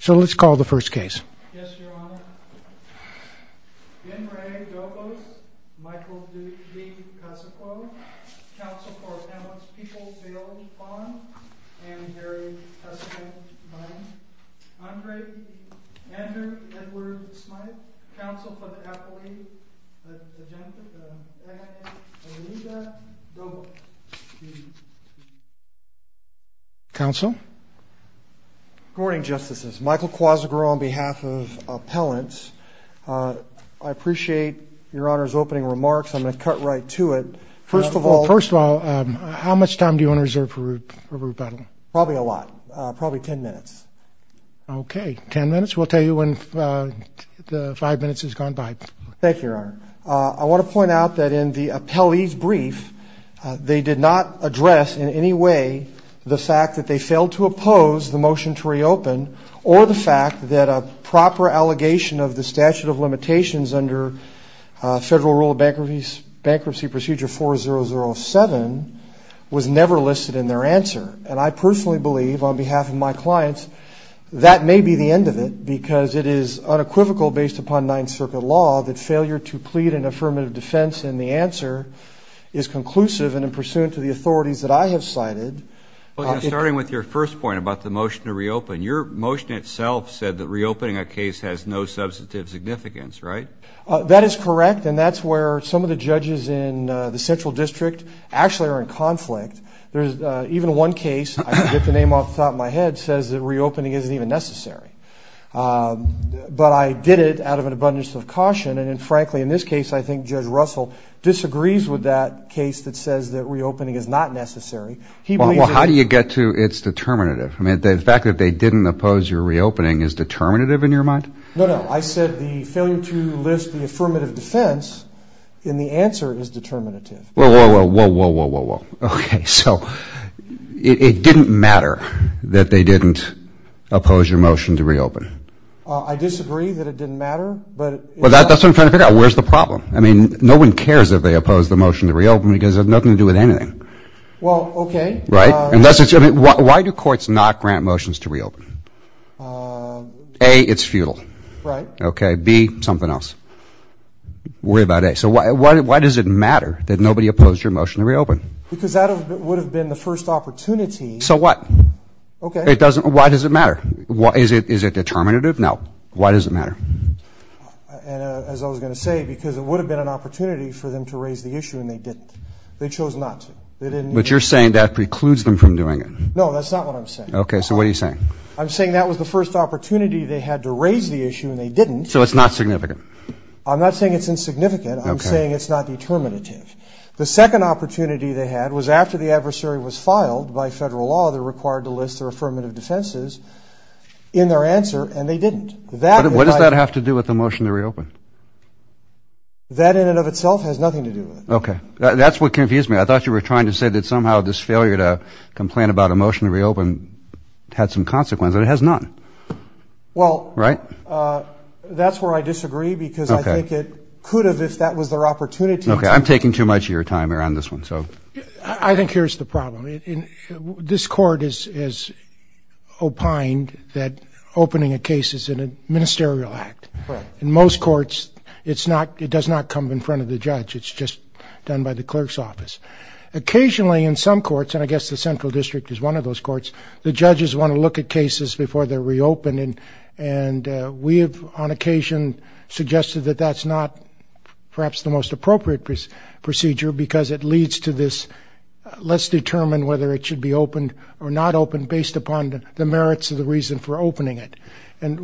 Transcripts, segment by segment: So let's call the first case. Yes, Your Honor. N. Ray Dobos Michael D. Cusicklo Counsel for Appellant's Peoples Bailey Vaughn and Harry Cusickline Andre Andrew Edward Smyth Counsel for the Appellee the Agent of the Attorney Anita Dobos Counsel Good morning, Justices. Michael Cosgrove on behalf of appellants. I appreciate Your Honor's opening remarks. I'm going to cut right to it. First of all... First of all, how much time do you want to reserve for rebuttal? Probably a lot. Probably ten minutes. Okay. Ten minutes? We'll tell you when the five minutes has gone by. Thank you, Your Honor. I want to point out that in the appellee's brief, they did not address in any way the fact that they failed to oppose the motion to reopen or the fact that a proper allegation of the statute of limitations under Federal Rule of Bankruptcy Procedure 4007 was never listed in their answer. I personally believe, on behalf of my clients, that may be the end of it because it is unequivocal, based upon Ninth Circuit law, that failure to plead an affirmative defense in the answer is conclusive and in pursuant to the authorities that I have cited. Starting with your first point about the motion to reopen, your motion itself said that reopening a case has no substantive significance, right? That is correct, and that's where some of the judges in the Central District actually are in conflict. Even one case, I can get the name off the top of my head, says that reopening isn't even necessary. But I did it out of an abundance of caution, and frankly, in this case, I think Judge Russell disagrees with that case that says that reopening is not necessary. Well, how do you get to it's determinative? I mean, the fact that they didn't oppose your reopening is determinative in your mind? No, no. I said the failure to list the affirmative defense in the answer is determinative. Whoa, whoa, whoa, whoa, whoa, whoa, whoa. Okay, so it didn't matter that they didn't oppose your motion to reopen? I disagree that it didn't matter, but... Well, that's what I'm trying to figure out. Well, where's the problem? I mean, no one cares if they oppose the motion to reopen because it has nothing to do with anything. Well, okay. Right? Why do courts not grant motions to reopen? A, it's futile. Right. Okay. B, something else. Worry about A. So why does it matter that nobody opposed your motion to reopen? Because that would have been the first opportunity. So what? Okay. Why does it matter? Is it determinative? No. Why does it matter? And, uh, as I was going to say, because it would have been an opportunity for them to raise the issue, and they didn't. They chose not to. They didn't... But you're saying that precludes them from doing it? No, that's not what I'm saying. Okay, so what are you saying? I'm saying that was the first opportunity they had to raise the issue, and they didn't. So it's not significant? I'm not saying it's insignificant. Okay. I'm saying it's not determinative. The second opportunity they had was after the adversary was filed, by federal law, they're required to list their affirmative defenses in their answer, and they didn't. What does that have to do with the motion to reopen? That in and of itself has nothing to do with it. Okay. That's what confused me. I thought you were trying to say that somehow this failure to complain about a motion to reopen had some consequence, and it has not. Well... Right? That's where I disagree, because I think it could have, if that was their opportunity... Okay, I'm taking too much of your time here on this one, so... I think here's the problem. This court has opined that opening a case is a ministerial act. Right. In most courts, it does not come in front of the judge. It's just done by the clerk's office. Occasionally, in some courts, and I guess the Central District is one of those courts, the judges want to look at cases before they're reopened, and we have on occasion suggested that that's not perhaps the most appropriate procedure, because it leads to this, let's determine whether it should be opened or not should be reopened based upon the merits of the reason for opening it. And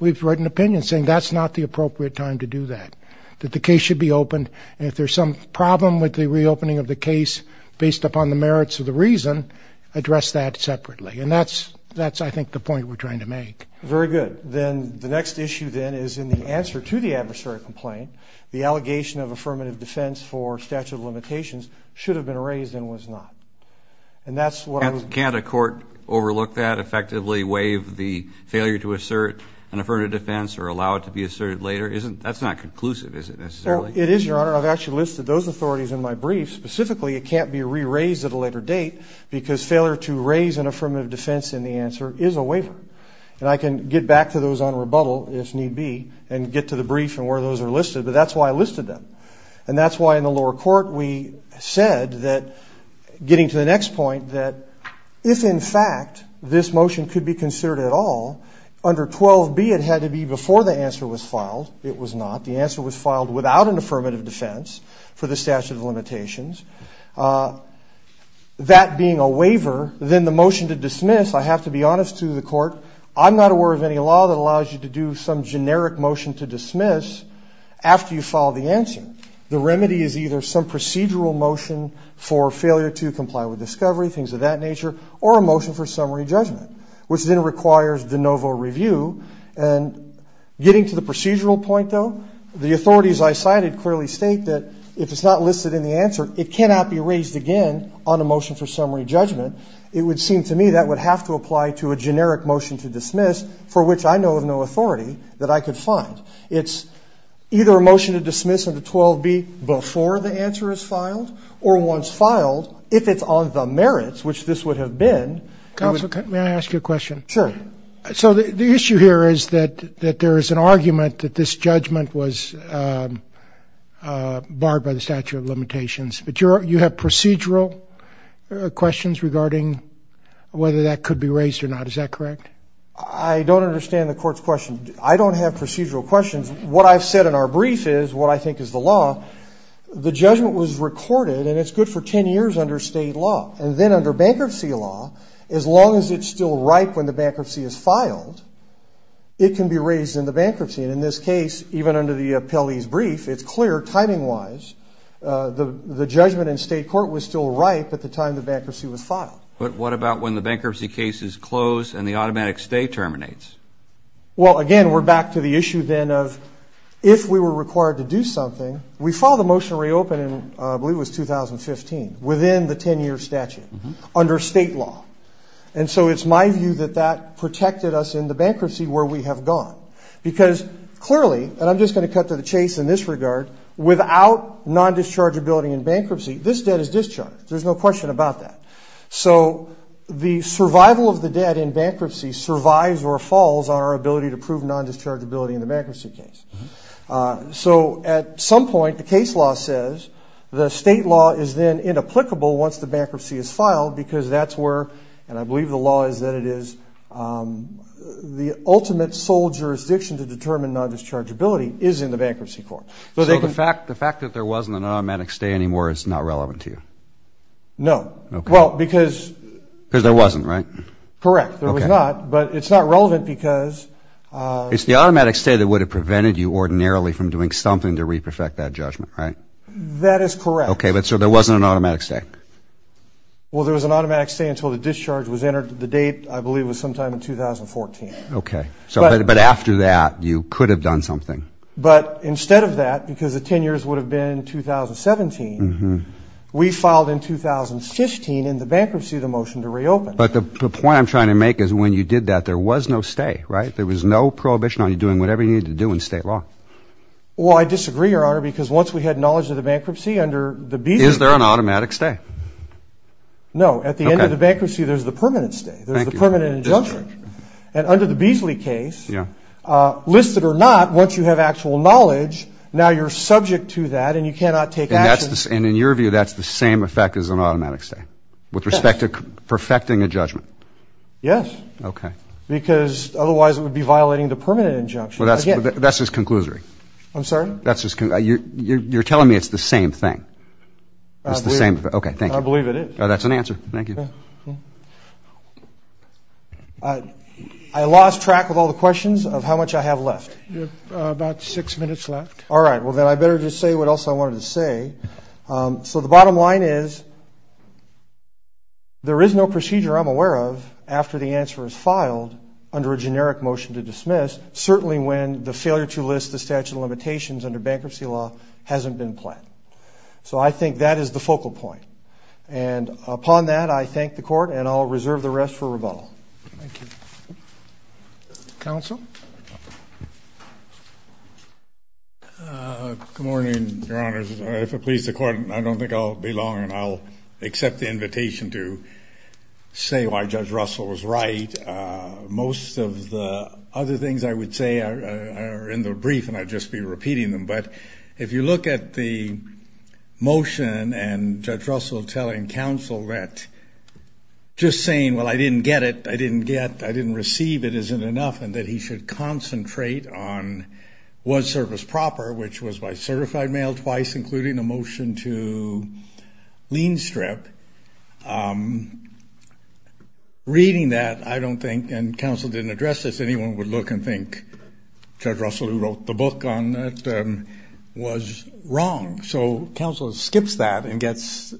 we've written opinion saying that's not the appropriate time to do that. That the case should be opened, and if there's some problem with the reopening of the case based upon the merits of the reason, address that separately. And that's, I think, the point we're trying to make. Very good. Then, the next issue then is in the answer to the adversary complaint, the allegation of affirmative defense for statute of limitations should have been raised and was not. Can't a court overlook that, effectively waive the failure to assert an affirmative defense or allow it to be asserted later? That's not conclusive, is it? It is, Your Honor. I've actually listed those authorities in my brief. Specifically, it can't be re-raised at a later date, because failure to raise an affirmative defense in the answer is a waiver. And I can get back to those on rebuttal, if need be, and get to the brief and where those are listed, but that's why I listed them. And that's why in the lower court we said that, getting to the next point, that if, in fact, this motion could be considered at all, under 12B it had to be before the answer was filed. It was not. The answer was filed without an affirmative defense for the statute of limitations. That being a waiver, then the motion to dismiss, I have to be honest to the court, I'm not aware of any law that allows you to do some generic motion to dismiss after you file the answer. The remedy is either some procedural motion for failure to comply with discovery, things of that nature, or a motion for summary judgment, which then requires de novo review. And getting to the procedural point, though, the authorities I cited clearly state that if it's not listed in the answer, it cannot be raised again on a motion for summary judgment. It would seem to me that would have to apply to a generic motion to dismiss for which I know of no authority that I could find. It's either a motion to dismiss under 12B before the answer is filed or once filed, if it's on the merits, which this would have been. Counsel, may I ask you a question? Sure. So the issue here is that there is an argument that this judgment was barred by the statute of limitations. But you have procedural questions regarding whether that could be raised or not. Is that correct? I don't understand the court's question. I don't have a brief. What I have is what I think is the law. The judgment was recorded and it's good for 10 years under state law. And then under bankruptcy law, as long as it's still ripe when the bankruptcy is filed, it can be raised in the bankruptcy. And in this case, even under the appellee's brief, it's clear, timing-wise, the judgment in state court was still ripe at the time the bankruptcy was filed. But what about when the bankruptcy case is closed and the automatic stay terminates? Well, again, we're back to the statute of limitations. If we were required to do something, we filed a motion to reopen in, I believe it was 2015, within the 10-year statute under state law. And so it's my view that that protected us in the bankruptcy where we have gone. Because clearly, and I'm just going to cut to the chase in this regard, without non-dischargeability in bankruptcy, this debt is discharged. There's no question about that. So the survival of the debt in bankruptcy survives or falls on our ability to prove non-dischargeability in the bankruptcy case. So at some point, the case law says the state law is then inapplicable once the bankruptcy is filed because that's where and I believe the law is that it is the ultimate sole jurisdiction to determine non-dischargeability is in the bankruptcy court. So the fact that there wasn't an automatic stay anymore is not relevant to you? No. Well, because Because there wasn't, right? Correct. There was not, but it's not relevant because It's the automatic stay that would have prevented you ordinarily from doing something to re-perfect that judgment, right? That is correct. So there wasn't an automatic stay? Well, there was an automatic stay until the discharge was entered. The date, I believe, was sometime in 2014. But after that, you could have done something. But instead of that, because the 10 years would have been 2017, we filed in 2015 in the The point I'm trying to make is when you did that, there was no stay, right? There was no prohibition on you doing whatever you needed to do in state law. Well, I disagree, Your Honor, because once we had knowledge of the bankruptcy, under the Beasley... Is there an automatic stay? No. At the end of the bankruptcy, there's the permanent stay. There's the permanent injunction. And under the Beasley case, listed or not, once you have actual knowledge, now you're subject to that and you cannot take action. And in your view, that's the same effect as an automatic stay? With respect to perfecting a judgment? Yes. Because otherwise it would be violating the permanent injunction. That's just conclusory. I'm sorry? You're telling me it's the same thing? I believe it is. That's an answer. Thank you. I lost track of all the questions of how much I have left. You have about six minutes left. All right. Well, then I better just say what else I wanted to say. So the bottom line is there is no procedure I'm aware of after the answer is filed under a generic motion to dismiss, certainly when the failure to list the statute of limitations under bankruptcy law hasn't been planned. So I think that is the focal point. And upon that, I thank the Court and I'll reserve the rest for rebuttal. Thank you. Counsel? Good morning, Your Honors. If it pleases the Court, I don't think I'll be long and I'll accept the invitation to say why Judge Russell was right. Most of the other things I would say are in the brief and I'd just be repeating them, but if you look at the motion and Judge Russell telling counsel that just saying, well, I didn't get it, I didn't get, I didn't receive it, isn't enough, and that he should concentrate on what's service proper, which was by certified mail twice, including a motion to lien strip, reading that, I don't think, and counsel didn't address this, anyone would look and think Judge Russell, who wrote the book on that, was wrong. So counsel skips that and gets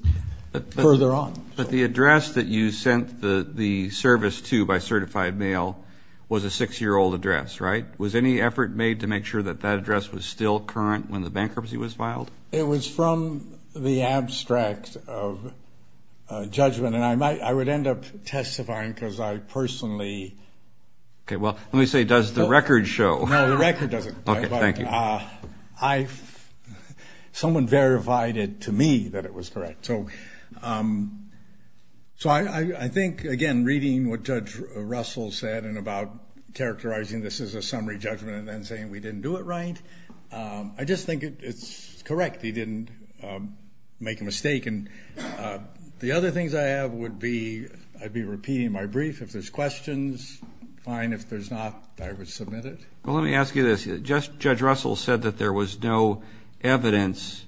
further on. But the address that you sent the service to by certified mail was a six-year-old address, right? Was any effort made to make sure that that address was still current when the bankruptcy was filed? It was from the abstract of judgment and I would end up testifying because I personally Okay, well, let me say, does the record show? No, the record doesn't. Okay, thank you. Someone verified it to me that it was correct. So I think, again, reading what Judge Russell said about characterizing this as a summary judgment and then saying we didn't do it right, I just think it's correct. He didn't make a mistake. And the other things I have would be, I'd be repeating my brief. If there's questions, fine. If there's not, I would submit it. Well, let me ask you this. Judge Russell said that there was no evidence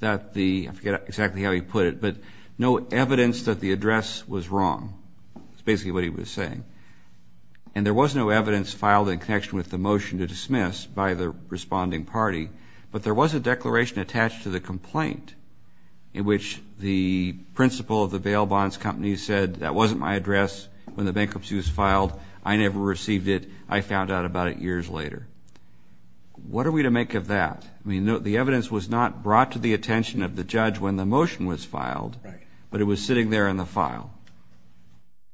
that the, I forget exactly how he put it, but no evidence that the address was wrong. That's basically what he was saying. And there was no evidence filed in connection with the motion to dismiss by the responding party, but there was a declaration attached to the complaint in which the principal of the bail bonds company said, that wasn't my address when the bankruptcy was filed. I never received it. I found out about it years later. What are we to make of that? The evidence was not brought to the attention of the judge when the motion was filed, but it was sitting there in the file.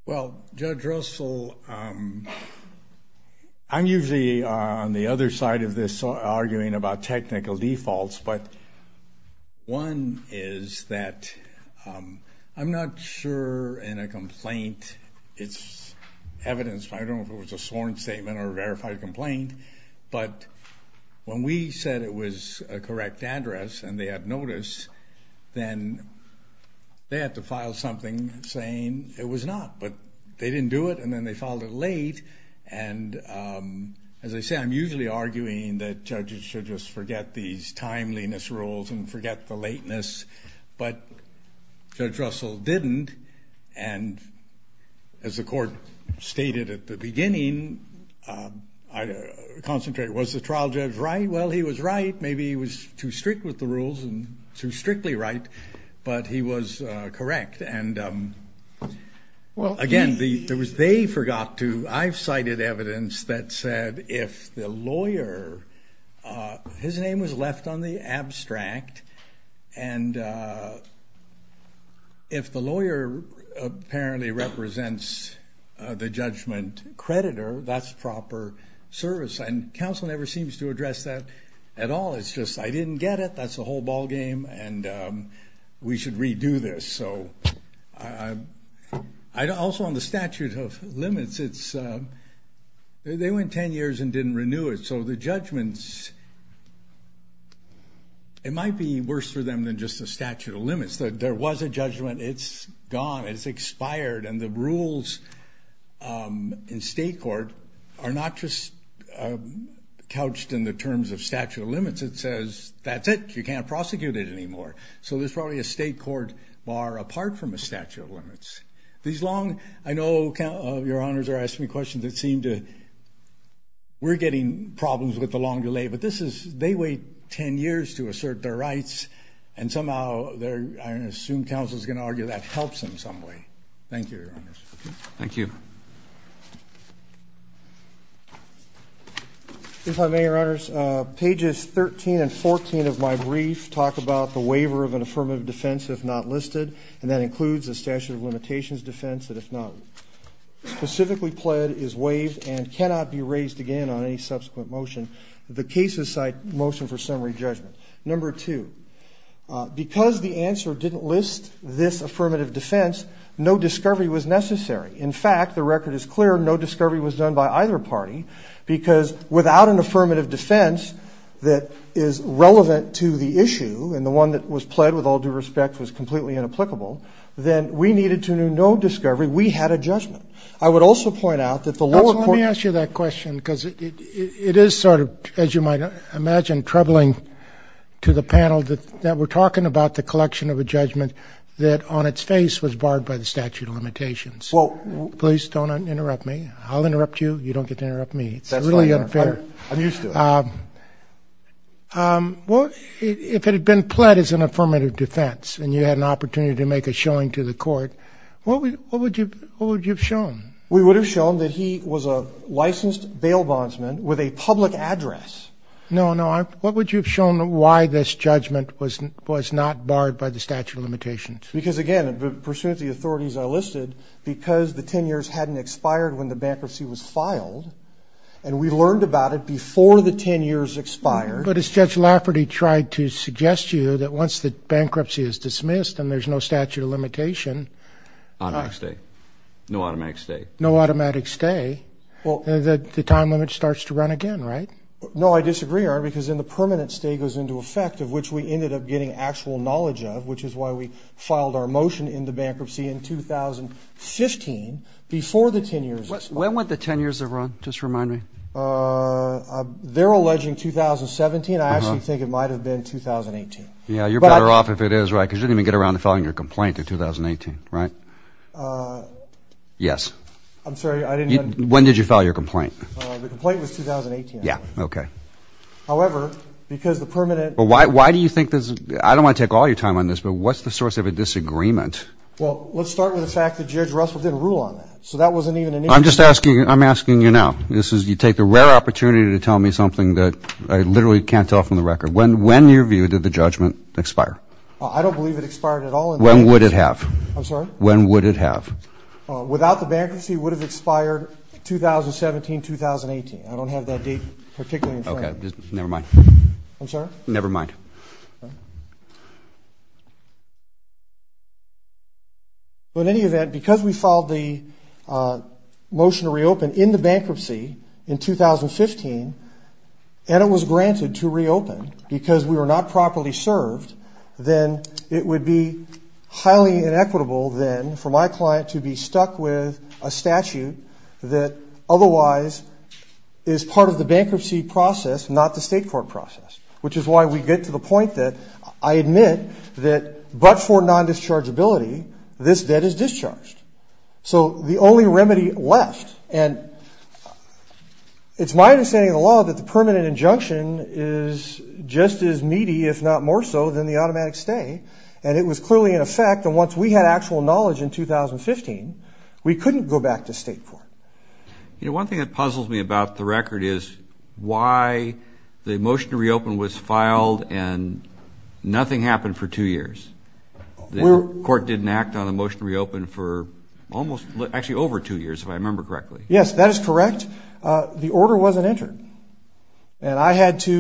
Well, Judge Russell, I'm usually on the other side of this arguing about technical defaults, but one is that I'm not sure in a complaint it's evidence, I don't know if it was a sworn statement or a verified complaint, but when we said it was a correct address and they had notice, then they had to file something saying it was not, but they didn't do it, and then they filed it late, and as I say, I'm usually arguing that judges should just forget these timeliness rules and forget the lateness, but Judge Russell didn't, and as the court stated at the beginning, was the trial judge right? Well, he was right. Maybe he was too strict with the rules and too strictly right, but he was correct, and again, they forgot to, I've cited evidence that said if the lawyer, his name was left on the abstract, and if the lawyer apparently represents the judgment creditor, that's proper service, and counsel never seems to address that at all, it's just, I didn't get it, that's the whole ball game, and we should redo this, so also on the statute of limits, it's they went ten years and didn't renew it, so the judgments, it might be worse for them than just the statute of limits. There was a judgment, it's gone, it's expired, and the rules in state court are not just in the terms of statute of limits, it says that's it, you can't prosecute it anymore, so there's probably a state court bar apart from a statute of limits. These long, I know your honors are asking me questions that seem to we're getting problems with the long delay, but this is, they wait ten years to assert their rights, and somehow, I assume counsel's going to argue that helps in some way. Thank you, your honors. Thank you. Thank you. If I may, your honors, pages 13 and 14 of my brief talk about the waiver of an affirmative defense if not listed, and that includes a statute of limitations defense that if not specifically pled is waived and cannot be raised again on any subsequent motion. The cases cite motion for summary judgment. Number two, because the answer didn't list this affirmative defense, no discovery was done by either party, because without an affirmative defense that is relevant to the issue and the one that was pled with all due respect was completely inapplicable, then we needed to know no discovery, we had a judgment. I would also point out that the lower court... Let me ask you that question, because it is sort of, as you might imagine, troubling to the panel that we're talking about the collection of a judgment that on its face was barred by the statute of limitations. Please don't interrupt me. I'll interrupt you, you don't get to interrupt me. It's really unfair. I'm used to it. If it had been pled as an affirmative defense and you had an opportunity to make a showing to the court, what would you have shown? We would have shown that he was a licensed bail bondsman with a public address. No, no. What would you have shown why this judgment was not barred by the statute of limitations? Because again, pursuant to the authorities I listed, because the 10 years hadn't expired when the bankruptcy was filed, and we learned about it before the 10 years expired... But as Judge Lafferty tried to suggest to you that once the bankruptcy is dismissed and there's no statute of limitation... Automatic stay. No automatic stay. No automatic stay. The time limit starts to run again, right? No, I disagree, because then the permanent stay goes into effect, of which we ended up getting actual knowledge of, which is why we filed our motion in the bankruptcy in 2015 before the 10 years expired. When went the 10 years run? Just remind me. They're alleging 2017. I actually think it might have been 2018. You're better off if it is, right, because you didn't even get around to filing your complaint in 2018, right? Yes. I'm sorry, I didn't... When did you file your complaint? The complaint was 2018. Yeah, okay. However, because the permanent... Why do you think this... I don't want to take all your time on this, but what's the source of a disagreement? Well, let's start with the fact that Judge Russell didn't rule on that, so that wasn't even an issue. I'm asking you now. You take the rare opportunity to tell me something that I literally can't tell from the record. When, in your view, did the judgment expire? I don't believe it expired at all. When would it have? I'm sorry? When would it have? Without the bankruptcy, it would have expired 2017, 2018. I don't have that date particularly in front of me. Okay, never mind. I'm sorry? Never mind. Well, in any event, because we filed the motion to reopen in the bankruptcy in 2015, and it was granted to reopen because we were not properly served, then it would be highly inequitable then for my client to be stuck with a statute that otherwise is part of the bankruptcy process, not the state court process, which is why we get to the point that I admit that but for non-dischargeability, this debt is discharged. So the only remedy left and it's my understanding of the law that the permanent injunction is just as meaty, if not more so, than the automatic stay, and it was clearly in effect, and once we had actual knowledge in 2015, we couldn't go back to state court. You know, one thing that puzzles me about the record is why the motion to reopen was filed and nothing happened for two years. The court didn't act on the motion to reopen for almost, actually over two years, if I remember correctly. Yes, that is correct. The order wasn't entered. And I had to,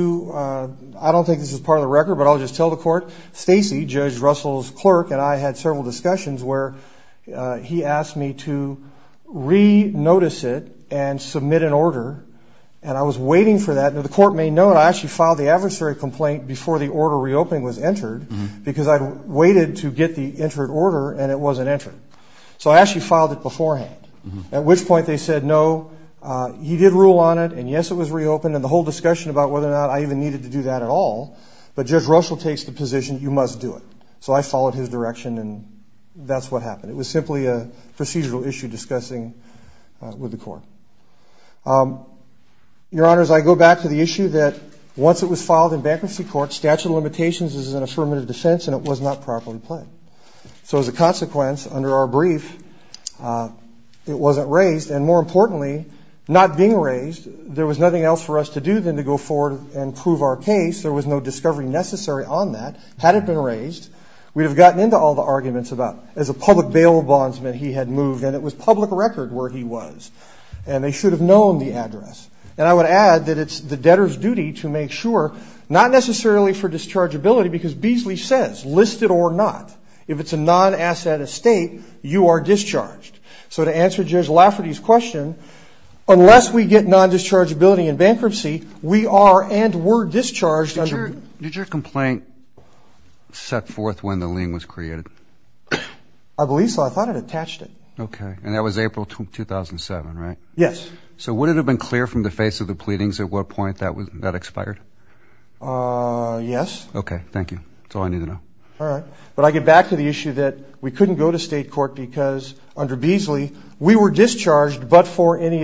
I don't think this is part of the record, but I'll just tell the court, Stacey, Judge Russell's clerk, and I had several discussions where he asked me to re-notice it and submit an order and I was waiting for that. The court may know that I actually filed the adversary complaint before the order reopening was entered because I'd waited to get the entered order and it wasn't entered. So I actually filed it beforehand. At which point they said no, he did rule on it, and yes, it was reopened, and the whole discussion about whether or not I even needed to do that at all, but Judge Russell takes the position, you must do it. So I followed his direction and that's what happened. It was simply a procedural issue discussing with the court. Your Honors, I go back to the issue that once it was filed in bankruptcy court, statute of limitations is an affirmative defense and it was not properly played. So as a consequence, under our brief, it wasn't raised and more importantly, not being raised, there was nothing else for us to do than to go forward and prove our case. There was no discovery necessary on that. Had it been raised, we'd have gotten into all the arguments about as a public bail bondsman, he had moved and it was public record where he was. And they should have known the address. And I would add that it's the debtor's duty to make sure, not necessarily for dischargeability, because Beasley says, listed or not, if it's a non-asset estate, you are discharged. So to answer Judge Lafferty's question, unless we get non-dischargeability in bankruptcy, we are and were discharged. Did your complaint set forth when the lien was created? I believe so. I thought it attached it. Okay. And that was April 2007, right? Yes. So would it have been clear from the face of the pleadings at what point that expired? Yes. Okay. Thank you. That's all I needed to know. Alright. But I get back to the issue that we couldn't go to state court because under Beasley, we were discharged but for any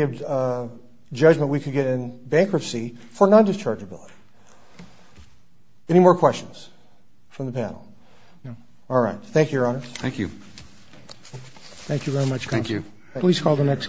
judgment we could get in bankruptcy for non-dischargeability. Any more questions from the panel? No. Alright. Thank you, Your Honor. Thank you. Thank you very much, Counsel. Thank you. Please call the next case.